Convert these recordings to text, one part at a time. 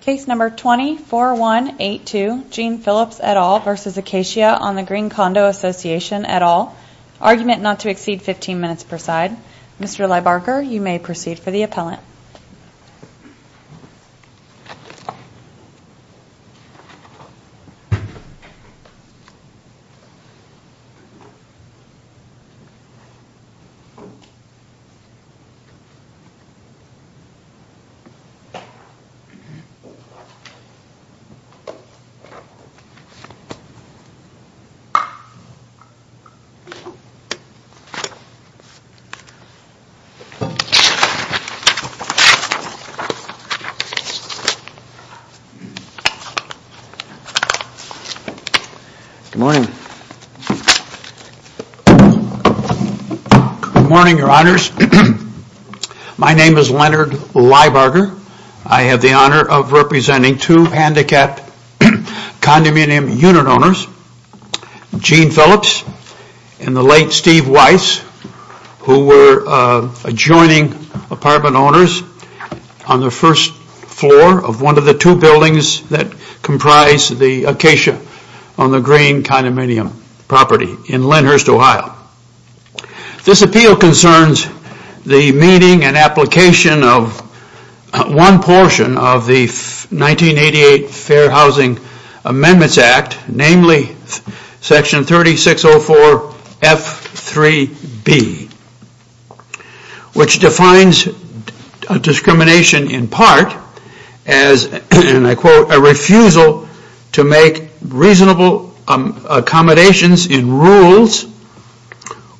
Case number 20-4182, Gene Phillips et al. v. Acacia on the Green Condo Association et al. Argument not to exceed 15 minutes per side. Mr. Leibarker, you may proceed for the appellant. Good morning, your honors. My name is Leonard Leibarker. I have the honor of representing two handicapped condominium unit owners, Gene Phillips and the late Steve Weiss, who were adjoining apartment owners on the first floor of one of the two buildings that comprise the Acacia on the Green Condominium property in Lenhurst, Ohio. This appeal concerns the meeting and application of one portion of the 1988 Fair Housing Amendments Act, namely section 3604 F3B, which defines discrimination in part as, and I quote, a refusal to make reasonable accommodations in rules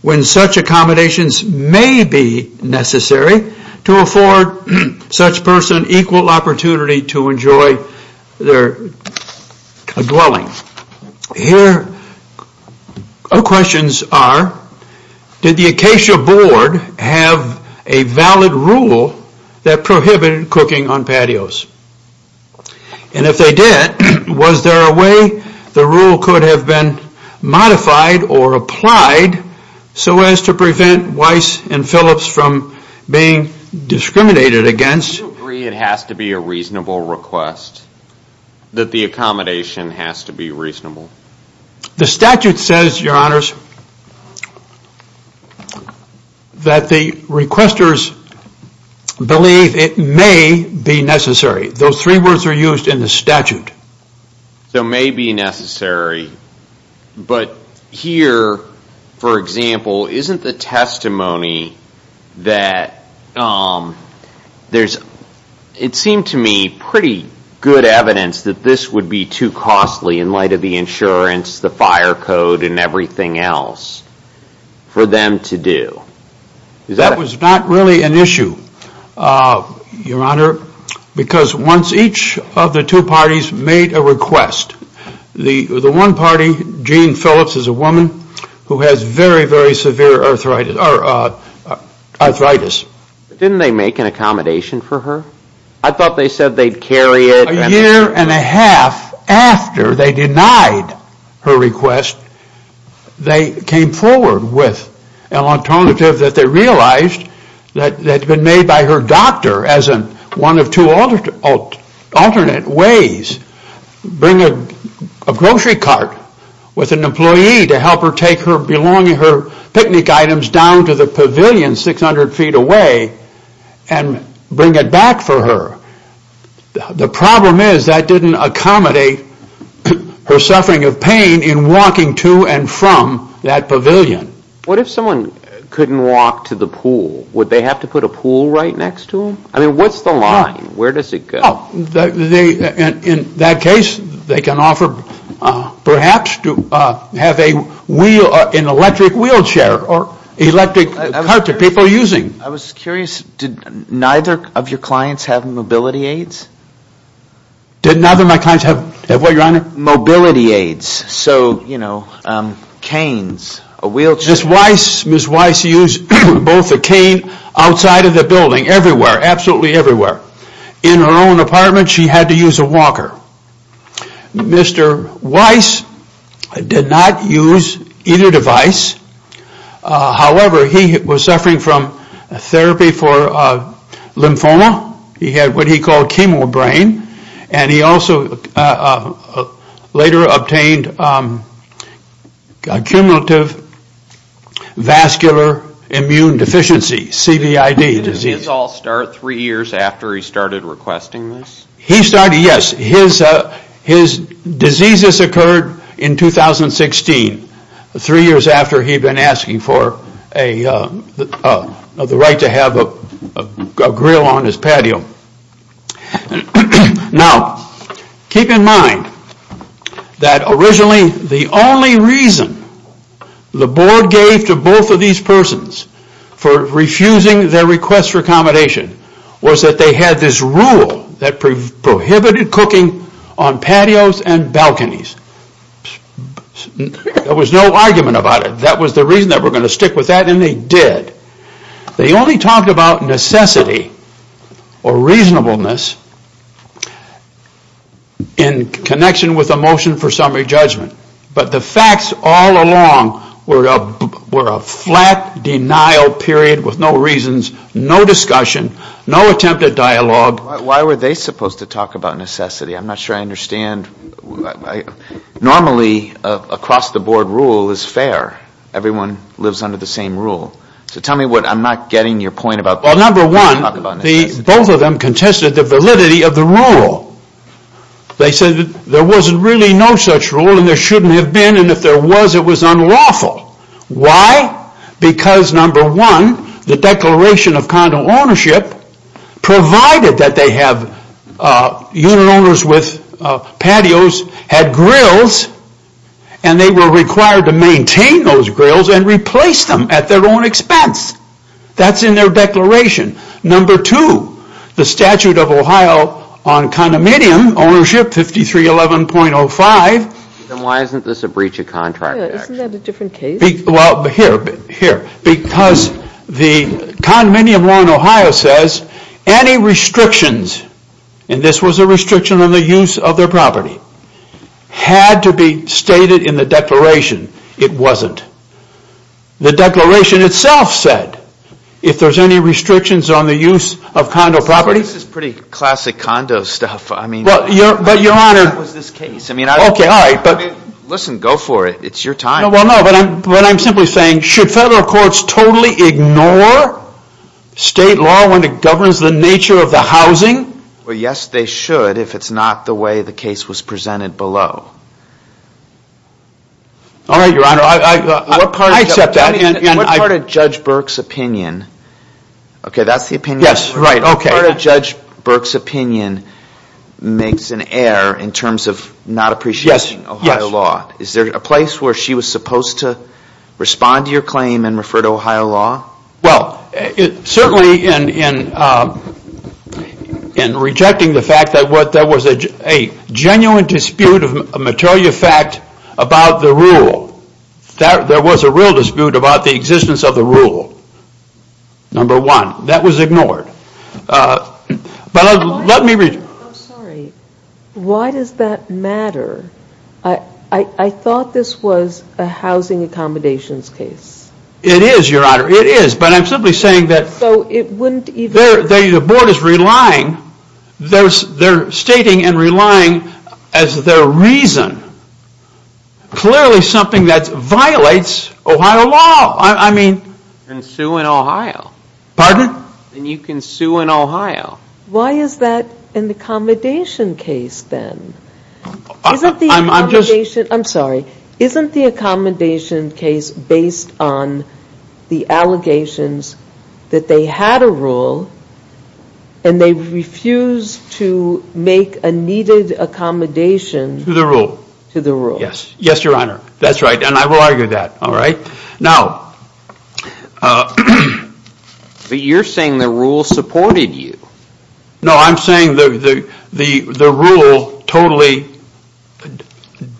when such accommodations may be necessary to afford such person equal opportunity to enjoy their dwelling. Here our questions are, did the Acacia board have a valid rule that prohibited cooking on patios? And if they did, was there a way the rule could have been modified or applied so as to prevent Weiss and Phillips from being discriminated against? Do you agree it has to be a reasonable request, that the accommodation has to be reasonable? The statute says, your honors, that the requesters believe it may be necessary. Those three words are used in the statute. So may be necessary, but here, for example, isn't the testimony that there's, it seemed to me, pretty good evidence that this would be too costly in light of the insurance, the fire code, and everything else for them to do. That was not really an issue, your honor, because once each of the two parties made a request, the one party, Jean Phillips, is a woman who has very, very severe arthritis. Didn't they make an accommodation for her? I thought they said they'd carry it. A year and a half after they denied her request, they came forward with an alternative that they realized that had been made by her doctor as one of two alternate ways. Bring a grocery cart with an employee to help her take her picnic items down to the pavilion 600 feet away and bring it back for her. The problem is that didn't accommodate her suffering of pain in walking to and from that pavilion. What if someone couldn't walk to the pool? Would they have to put a pool right next to them? I mean, what's the line? Where does it go? In that case, they can offer, perhaps, to have an electric wheelchair or electric cart that people are using. I was curious, did neither of your clients have mobility aids? Did neither of my clients have what, your honor? Mobility aids. So, you know, canes, a wheelchair. Ms. Weiss used both a cane outside of the building, everywhere, absolutely everywhere. In her own apartment, she had to use a walker. Mr. Weiss did not use either device, however, he was suffering from therapy for lymphoma. He had what he called chemo brain and he also later obtained a cumulative vascular immune deficiency, CVID. Did his all start three years after he started requesting this? He started, yes. His diseases occurred in 2016, three years after he had been asking for the right to have a grill on his patio. Now, keep in mind that originally the only reason the board gave to both of these persons for refusing their request for accommodation was that they had this rule that prohibited cooking on patios and balconies. There was no argument about it. That was the reason that we're going to stick with that and they did. They only talked about necessity or reasonableness in connection with a motion for summary judgment. But the facts all along were a flat denial period with no reasons, no discussion, no attempt at dialogue. Why were they supposed to talk about necessity? I'm not sure I understand. Normally across the board rule is fair. Everyone lives under the same rule. So tell me what I'm not getting your point about. Well, number one, both of them contested the validity of the rule. They said there wasn't really no such rule and there shouldn't have been and if there was it was unlawful. Why? Because, number one, the Declaration of Condo Ownership provided that they have unit owners with patios had grills and they were required to maintain those grills and replace them at their own expense. That's in their declaration. Number two, the Statute of Ohio on condominium ownership 5311.05. Why isn't this a breach of contract? Isn't that a different case? Here, because the condominium law in Ohio says any restrictions, and this was a restriction on the use of their property, had to be stated in the declaration. It wasn't. The declaration itself said, if there's any restrictions on the use of condo property. This is pretty classic condo stuff. I mean, I don't think that was this case. Listen, go for it. It's your time. Well, no, but I'm simply saying, should federal courts totally ignore state law when it governs the nature of the housing? Well, yes, they should if it's not the way the case was presented below. All right, Your Honor. I accept that. What part of Judge Burke's opinion? Okay, that's the opinion. Yes, right. What part of Judge Burke's opinion makes an error in terms of not appreciating Ohio law? Is there a place where she was supposed to respond to your claim and refer to Ohio law? Well, certainly in rejecting the fact that there was a genuine dispute of material fact about the rule. There was a real dispute about the existence of the rule, number one. That was ignored. But let me... I'm sorry, why does that matter? I thought this was a housing accommodations case. It is, Your Honor. It is, but I'm simply saying that... So it wouldn't even... The board is relying, they're stating and relying as their reason. Clearly something that violates Ohio law. I mean... You can sue in Ohio. Pardon? You can sue in Ohio. Why is that an accommodation case then? I'm sorry. Isn't the accommodation case based on the allegations that they had a rule and they refused to make a needed accommodation... To the rule. To the rule. Yes. Yes, Your Honor. That's right. And I will argue that. All right? Now... But you're saying the rule supported you. No, I'm saying the rule totally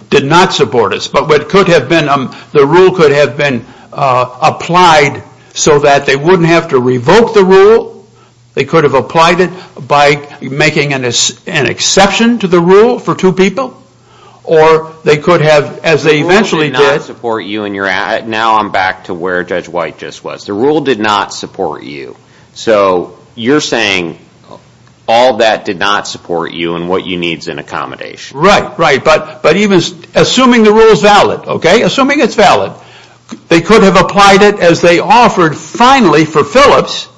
did not support us. But what could have been... The rule could have been applied so that they wouldn't have to revoke the rule. They could have applied it by making an exception to the rule for two people. Or they could have, as they eventually did... The rule did not support you in your... Now I'm back to where Judge White just was. The rule did not support you. So you're saying all that did not support you and what you need is an accommodation. Right, right. But even... Assuming the rule is valid. Okay? Assuming it's valid. They could have applied it as they offered finally for Phillips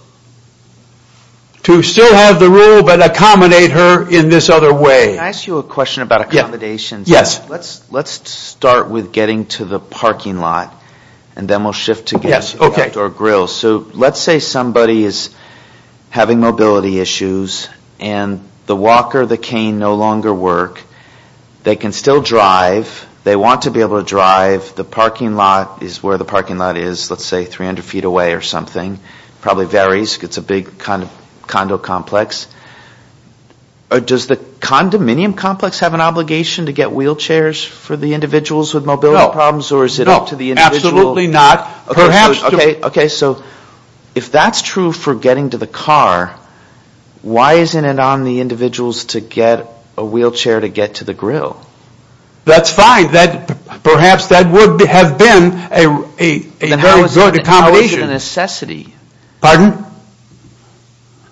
to still have the rule but accommodate her in this other way. Can I ask you a question about accommodations? Yes. Let's start with getting to the parking lot and then we'll shift to getting to the outdoor grill. So let's say somebody is having mobility issues and the walker, the cane no longer work. They can still drive. They want to be able to drive. The parking lot is where the parking lot is. Let's say 300 feet away or something. Probably varies. It's a big kind of condo complex. Does the condominium complex have an obligation to get wheelchairs for the individuals with mobility problems? No. Or is it up to the individual? No. Absolutely not. Okay. So if that's true for getting to the car, why isn't it on the individuals to get a wheelchair to get to the grill? That's fine. Perhaps that would have been a very good accommodation. Then how is it a necessity? Pardon?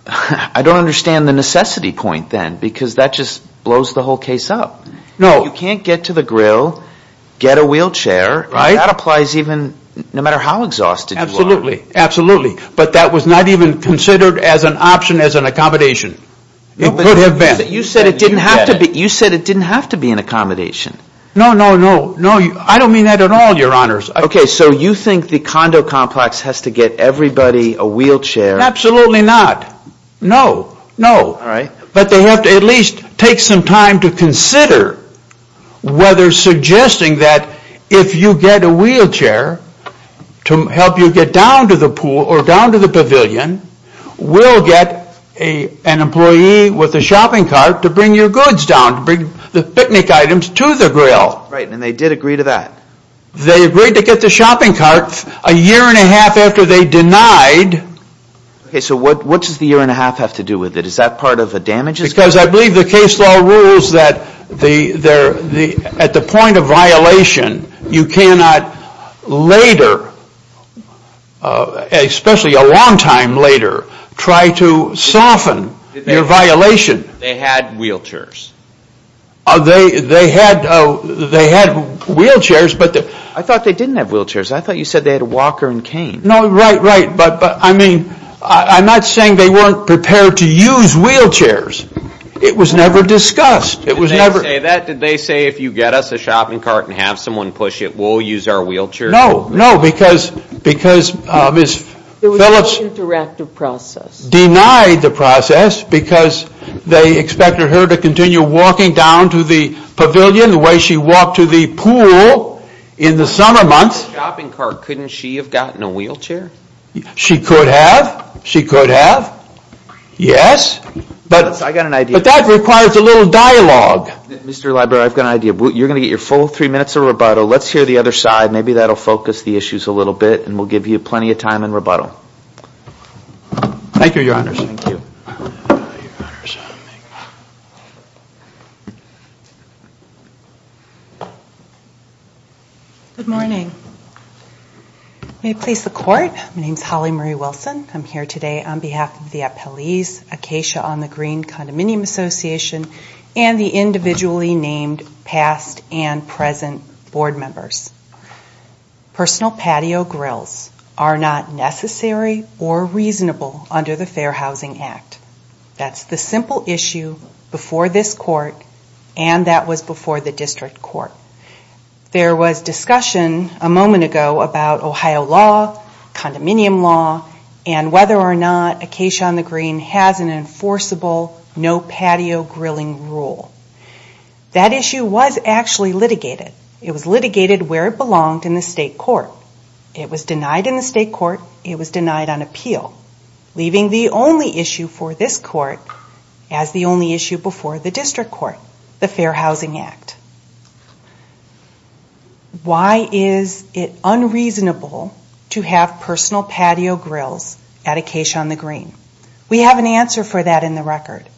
I don't understand the necessity point then because that just blows the whole case up. No. You can't get to the grill, get a wheelchair. Right. That applies even no matter how exhausted you are. Absolutely. Absolutely. But that was not even considered as an option as an accommodation. It could have been. You said it didn't have to be an accommodation. No, no, no. I don't mean that at all, your honors. Okay. So you think the condo complex has to get everybody a wheelchair? Absolutely not. No. No. All right. But they have to at least take some time to consider whether suggesting that if you get a wheelchair to help you get down to the pool or down to the pavilion, we'll get an employee with a shopping cart to bring your goods down, to bring the picnic items to the grill. Right. And they did agree to that. They agreed to get the shopping cart a year and a half after they denied. Okay. So what does the year and a half have to do with it? Is that part of the damages? Because I believe the case law rules that at the point of violation, you cannot later, especially a long time later, try to soften your violation. They had wheelchairs. They had wheelchairs. I thought they didn't have wheelchairs. I thought you said they had a walker and cane. No, right, right. But I mean, I'm not saying they weren't prepared to use wheelchairs. It was never discussed. It was never... Did they say that? Did they say if you get us a shopping cart and have someone push it, we'll use our wheelchair? No. Because Ms. Phillips... It was an interactive process. ...denied the process because they expected her to continue walking down to the pavilion the way she walked to the pool in the summer months. A shopping cart. Couldn't she have gotten a wheelchair? She could have. She could have. Yes. But... I got an idea. But that requires a little dialogue. Mr. Libro, I've got an idea. You're going to get your full three minutes of rebuttal. Let's hear the other side. Maybe that'll focus the issues a little bit, and we'll give you plenty of time in rebuttal. Thank you, Your Honors. Thank you. Your Honors. Good morning. May it please the Court? Good morning. My name is Holly Marie Wilson. I'm here today on behalf of the appellees, Acacia on the Green Condominium Association, and the individually named past and present board members. Personal patio grills are not necessary or reasonable under the Fair Housing Act. That's the simple issue before this Court, and that was before the District Court. There was discussion a moment ago about Ohio law, condominium law, and whether or not Acacia on the Green has an enforceable no patio grilling rule. That issue was actually litigated. It was litigated where it belonged in the State Court. It was denied in the State Court. It was denied on appeal, leaving the only issue for this Court as the only issue before the District Court, the Fair Housing Act. Why is it unreasonable to have personal patio grills at Acacia on the Green? We have an answer for that in the record,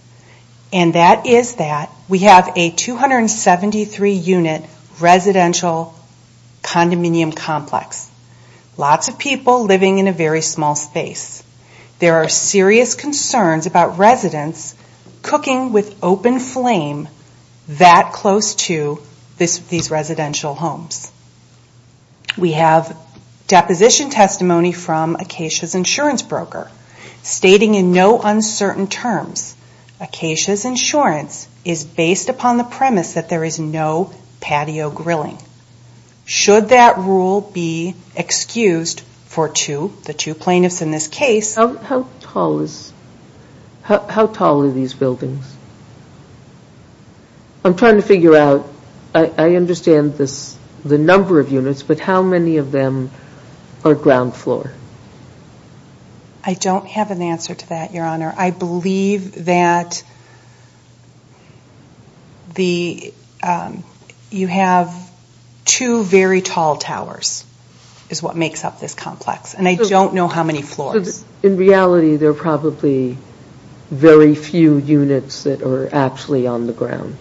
and that is that we have a 273-unit residential condominium complex, lots of people living in a very small space. There are serious concerns about residents cooking with open flame that close to these residential homes. We have deposition testimony from Acacia's insurance broker stating in no uncertain terms Acacia's insurance is based upon the premise that there is no patio grilling. Should that rule be excused for two, the two plaintiffs in this case? How tall are these buildings? I'm trying to figure out. I understand the number of units, but how many of them are ground floor? I don't have an answer to that, Your Honor. I believe that you have two very tall towers is what makes up this complex, and I don't know how many floors. In reality, there are probably very few units that are actually on the ground.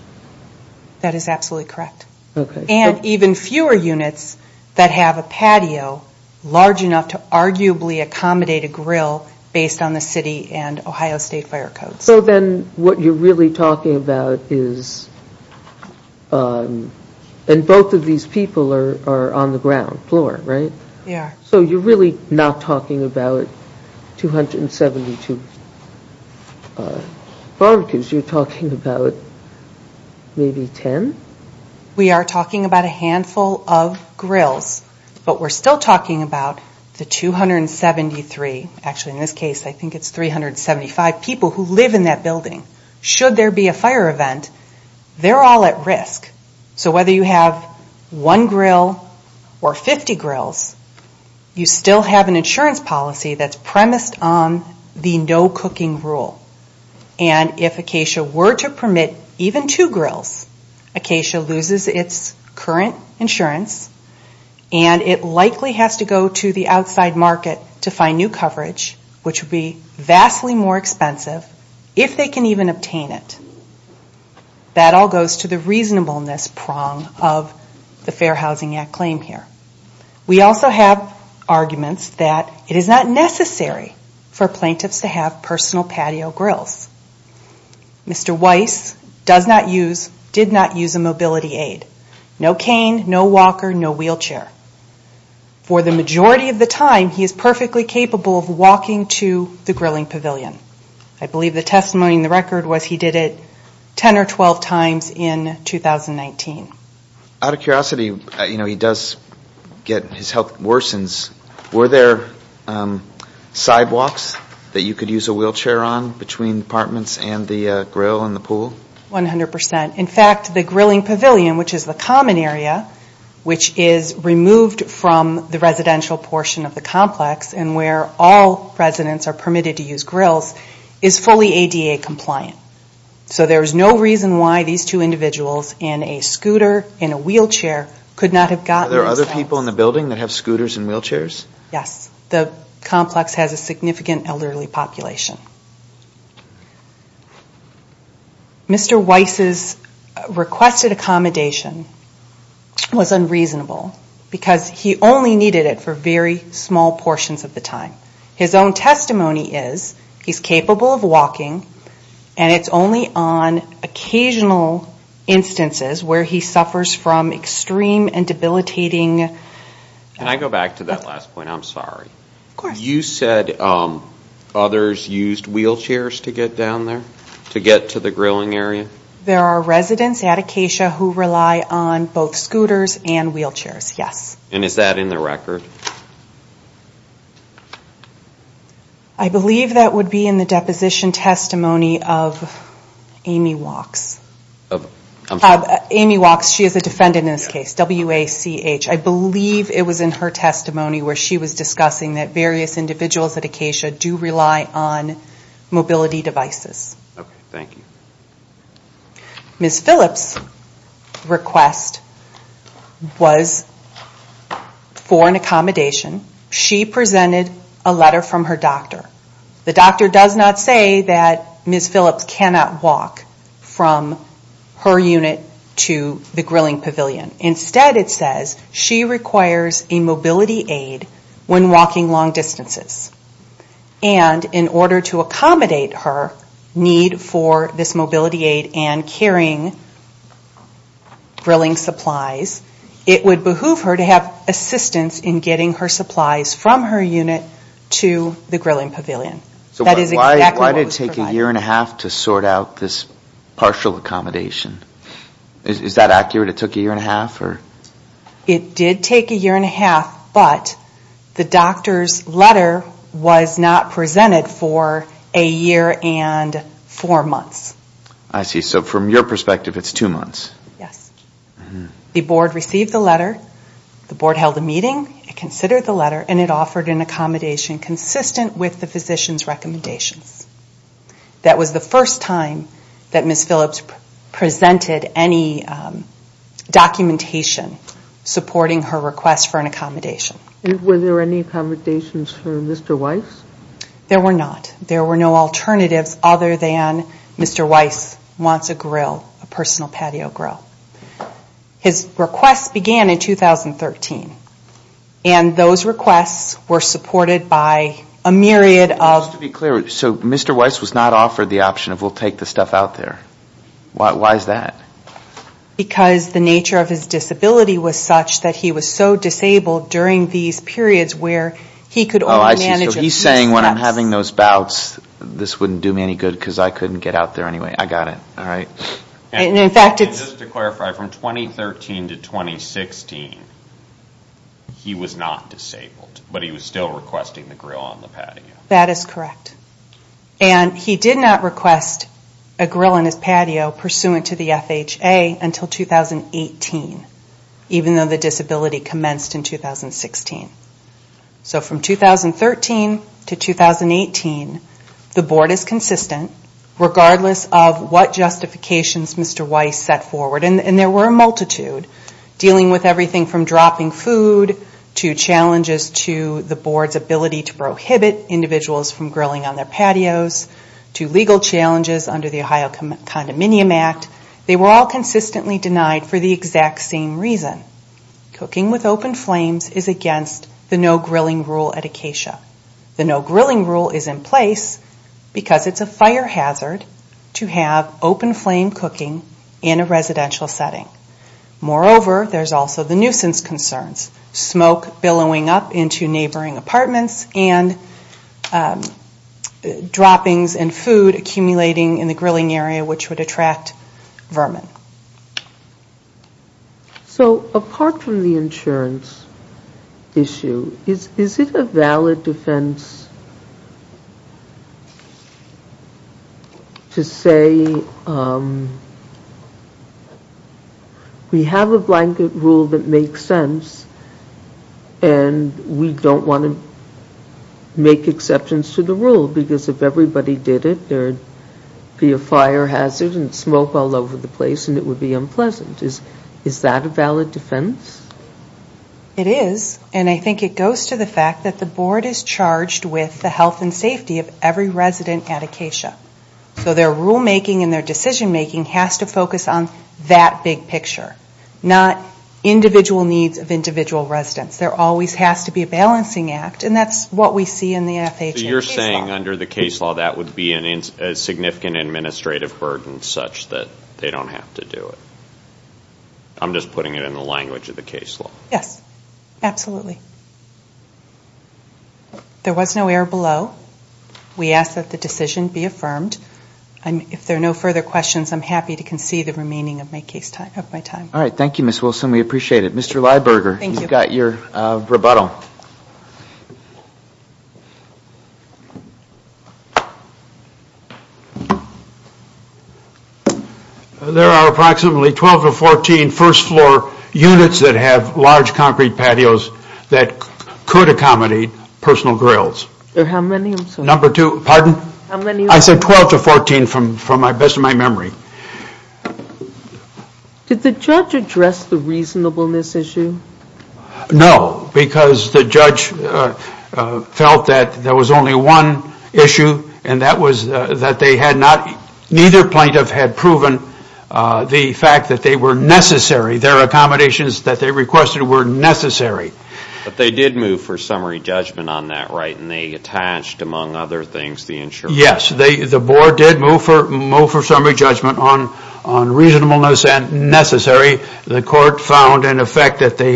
That is absolutely correct. And even fewer units that have a patio large enough to arguably accommodate a grill based on the city and Ohio State fire codes. So then what you're really talking about is, and both of these people are on the ground floor, right? They are. So you're really not talking about 272 barbecues, you're talking about maybe 10? We are talking about a handful of grills, but we're still talking about the 273, actually in this case I think it's 375 people who live in that building. Should there be a fire event, they're all at risk. So whether you have one grill or 50 grills, you still have an insurance policy that's premised on the no cooking rule. And if Acacia were to permit even two grills, Acacia loses its current insurance and it would be vastly more expensive if they can even obtain it. That all goes to the reasonableness prong of the Fair Housing Act claim here. We also have arguments that it is not necessary for plaintiffs to have personal patio grills. Mr. Weiss does not use, did not use a mobility aid. No cane, no walker, no wheelchair. For the majority of the time, he is perfectly capable of walking to the grilling pavilion. I believe the testimony in the record was he did it 10 or 12 times in 2019. Out of curiosity, you know he does get, his health worsens. Were there sidewalks that you could use a wheelchair on between apartments and the grill and the pool? 100%. In fact, the grilling pavilion, which is the common area, which is removed from the residential portion of the complex and where all residents are permitted to use grills, is fully ADA compliant. So there is no reason why these two individuals in a scooter and a wheelchair could not have gotten those signs. Are there other people in the building that have scooters and wheelchairs? Yes. The complex has a significant elderly population. Mr. Weiss's requested accommodation was unreasonable because he only needed it for very small portions of the time. His own testimony is he's capable of walking and it's only on occasional instances where he suffers from extreme and debilitating... Can I go back to that last point? I'm sorry. Of course. You said others used wheelchairs to get down there? To get to the grilling area? There are residents at Acacia who rely on both scooters and wheelchairs, yes. And is that in the record? I believe that would be in the deposition testimony of Amy Wachs. I'm sorry. Amy Wachs, she is a defendant in this case, W-A-C-H. I believe it was in her testimony where she was discussing that various individuals at Acacia do rely on mobility devices. Thank you. Ms. Phillips' request was for an accommodation. She presented a letter from her doctor. The doctor does not say that Ms. Phillips cannot walk from her unit to the grilling pavilion. Instead, it says she requires a mobility aid when walking long distances. And in order to accommodate her need for this mobility aid and carrying grilling supplies, it would behoove her to have assistance in getting her supplies from her unit to the grilling pavilion. That is exactly what was provided. So why did it take a year and a half to sort out this partial accommodation? Is that accurate? It took a year and a half? It did take a year and a half, but the doctor's letter was not presented for a year and four months. I see. So from your perspective, it's two months. Yes. The board received the letter. The board held a meeting, considered the letter, and it offered an accommodation consistent with the physician's recommendations. That was the first time that Ms. Phillips presented any documentation supporting her request for an accommodation. Were there any accommodations for Mr. Weiss? There were not. There were no alternatives other than Mr. Weiss wants a grill, a personal patio grill. His request began in 2013, and those requests were supported by a myriad of... Just to be clear, so Mr. Weiss was not offered the option of, we'll take the stuff out there. Why is that? Because the nature of his disability was such that he was so disabled during these periods where he could only manage... Oh, I see. So he's saying, when I'm having those bouts, this wouldn't do me any good because I couldn't get out there anyway. I got it. All right. And in fact, it's... And just to clarify, from 2013 to 2016, he was not disabled, but he was still requesting the grill on the patio. That is correct. And he did not request a grill on his patio pursuant to the FHA until 2018, even though the disability commenced in 2016. So from 2013 to 2018, the board is consistent, regardless of what justifications Mr. Weiss set forward. And there were a multitude, dealing with everything from dropping food to challenges to the board's ability to prohibit individuals from grilling on their patios to legal challenges under the Ohio Condominium Act. They were all consistently denied for the exact same reason. Cooking with open flames is against the no grilling rule at Acacia. The no grilling rule is in place because it's a fire hazard to have open flame cooking in a residential setting. Moreover, there's also the nuisance concerns, smoke billowing up into neighboring apartments and droppings and food accumulating in the grilling area, which would attract vermin. So apart from the insurance issue, is it a valid defense to say we have a blanket rule that makes sense and we don't want to make exceptions to the rule because if everybody did it, there would be a fire hazard and smoke all over the place and it would be unpleasant. Is that a valid defense? It is, and I think it goes to the fact that the board is charged with the health and safety of every resident at Acacia. So their rule making and their decision making has to focus on that big picture, not individual needs of individual residents. There always has to be a balancing act, and that's what we see in the FHA case law. So you're saying under the case law, that would be a significant administrative burden such that they don't have to do it? I'm just putting it in the language of the case law. Yes, absolutely. There was no error below. We ask that the decision be affirmed. If there are no further questions, I'm happy to concede the remaining of my time. Thank you, Ms. Wilson. We appreciate it. Mr. Lyburger, you've got your rebuttal. There are approximately 12 to 14 first floor units that have large concrete patios that could accommodate personal grills. How many? I'm sorry. Number two, pardon? How many? I said 12 to 14 from the best of my memory. Did the judge address the reasonableness issue? No, because the judge felt that there was only one issue, and that was that neither plaintiff had proven the fact that they were necessary. Their accommodations that they requested were necessary. But they did move for summary judgment on that, right? And they attached, among other things, the insurance. Yes, the board did move for summary judgment on reasonableness and necessary. The court found, in effect, that they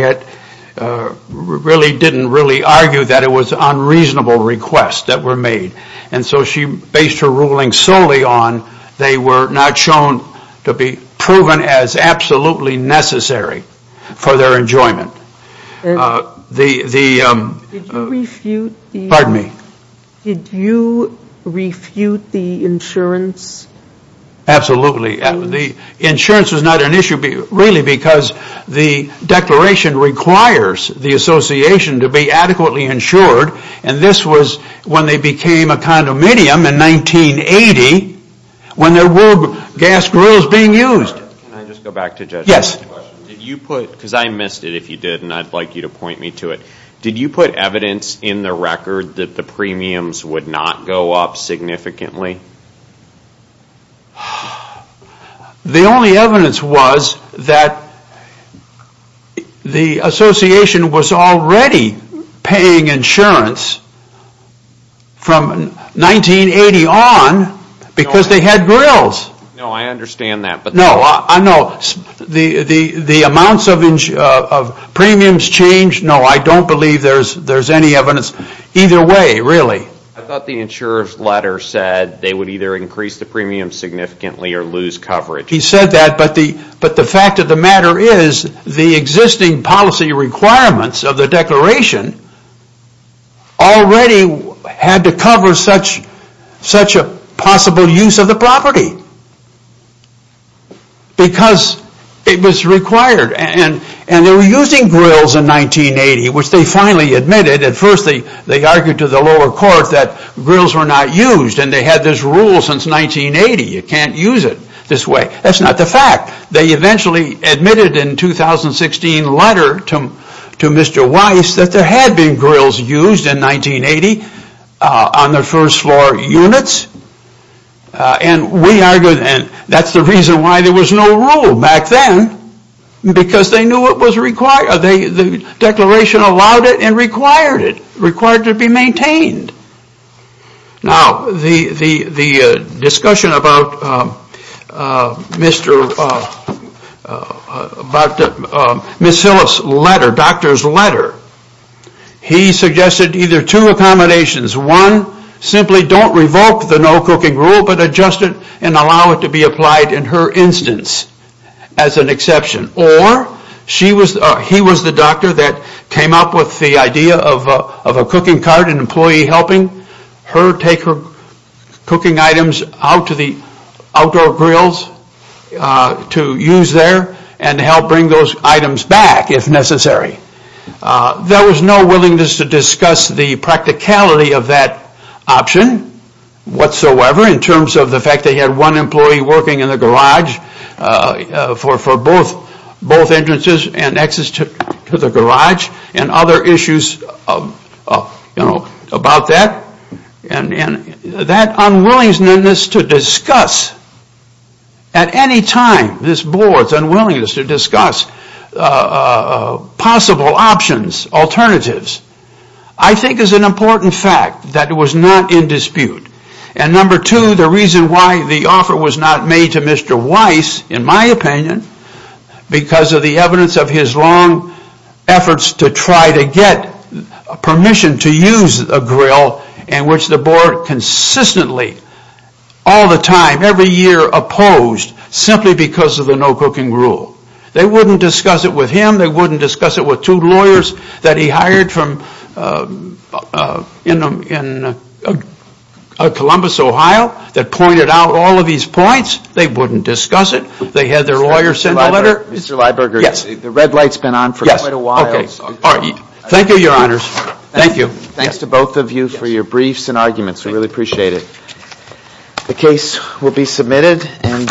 really didn't really argue that it was unreasonable requests that were made. And so she based her ruling solely on they were not shown to be proven as absolutely necessary for their enjoyment. Did you refute the insurance? Absolutely. The insurance was not an issue, really, because the declaration requires the association to be adequately insured. And this was when they became a condominium in 1980, when there were gas grills being used. Can I just go back to judge? Yes. I have a question. Because I missed it, if you did, and I'd like you to point me to it. Did you put evidence in the record that the premiums would not go up significantly? The only evidence was that the association was already paying insurance from 1980 on because they had grills. No, I understand that. No, the amounts of premiums changed. No, I don't believe there's any evidence. Either way, really. I thought the insurer's letter said they would either increase the premiums significantly or lose coverage. He said that, but the fact of the matter is the existing policy requirements of the declaration already had to cover such a possible use of the property because it was required. And they were using grills in 1980, which they finally admitted. At first, they argued to the lower court that grills were not used, and they had this rule since 1980. You can't use it this way. That's not the fact. They eventually admitted in a 2016 letter to Mr. Weiss that there had been grills used in 1980 on the first floor units, and that's the reason why there was no rule back then because they knew the declaration allowed it and required it, required it to be maintained. Now, the discussion about Ms. Silliff's letter, doctor's letter, he suggested either two accommodations. One, simply don't revoke the no cooking rule, but adjust it and allow it to be applied in her instance as an exception. Or he was the doctor that came up with the idea of a cooking cart, an employee helping her take her cooking items out to the outdoor grills to use there and help bring those items back if necessary. There was no willingness to discuss the practicality of that option whatsoever in terms of the both entrances and exits to the garage and other issues about that. That unwillingness to discuss at any time, this board's unwillingness to discuss possible options, alternatives, I think is an important fact that was not in dispute. And number two, the reason why the offer was not made to Mr. Weiss, in my opinion, because of the evidence of his long efforts to try to get permission to use a grill in which the board consistently, all the time, every year opposed simply because of the no cooking rule. They wouldn't discuss it with him, they wouldn't discuss it with two lawyers that he hired from Columbus, Ohio, that pointed out all of these points. They wouldn't discuss it. They had their lawyers send a letter. Mr. Lyberger, the red light's been on for quite a while. Yes. Thank you, your honors. Thank you. Thanks to both of you for your briefs and arguments, we really appreciate it. The case will be submitted.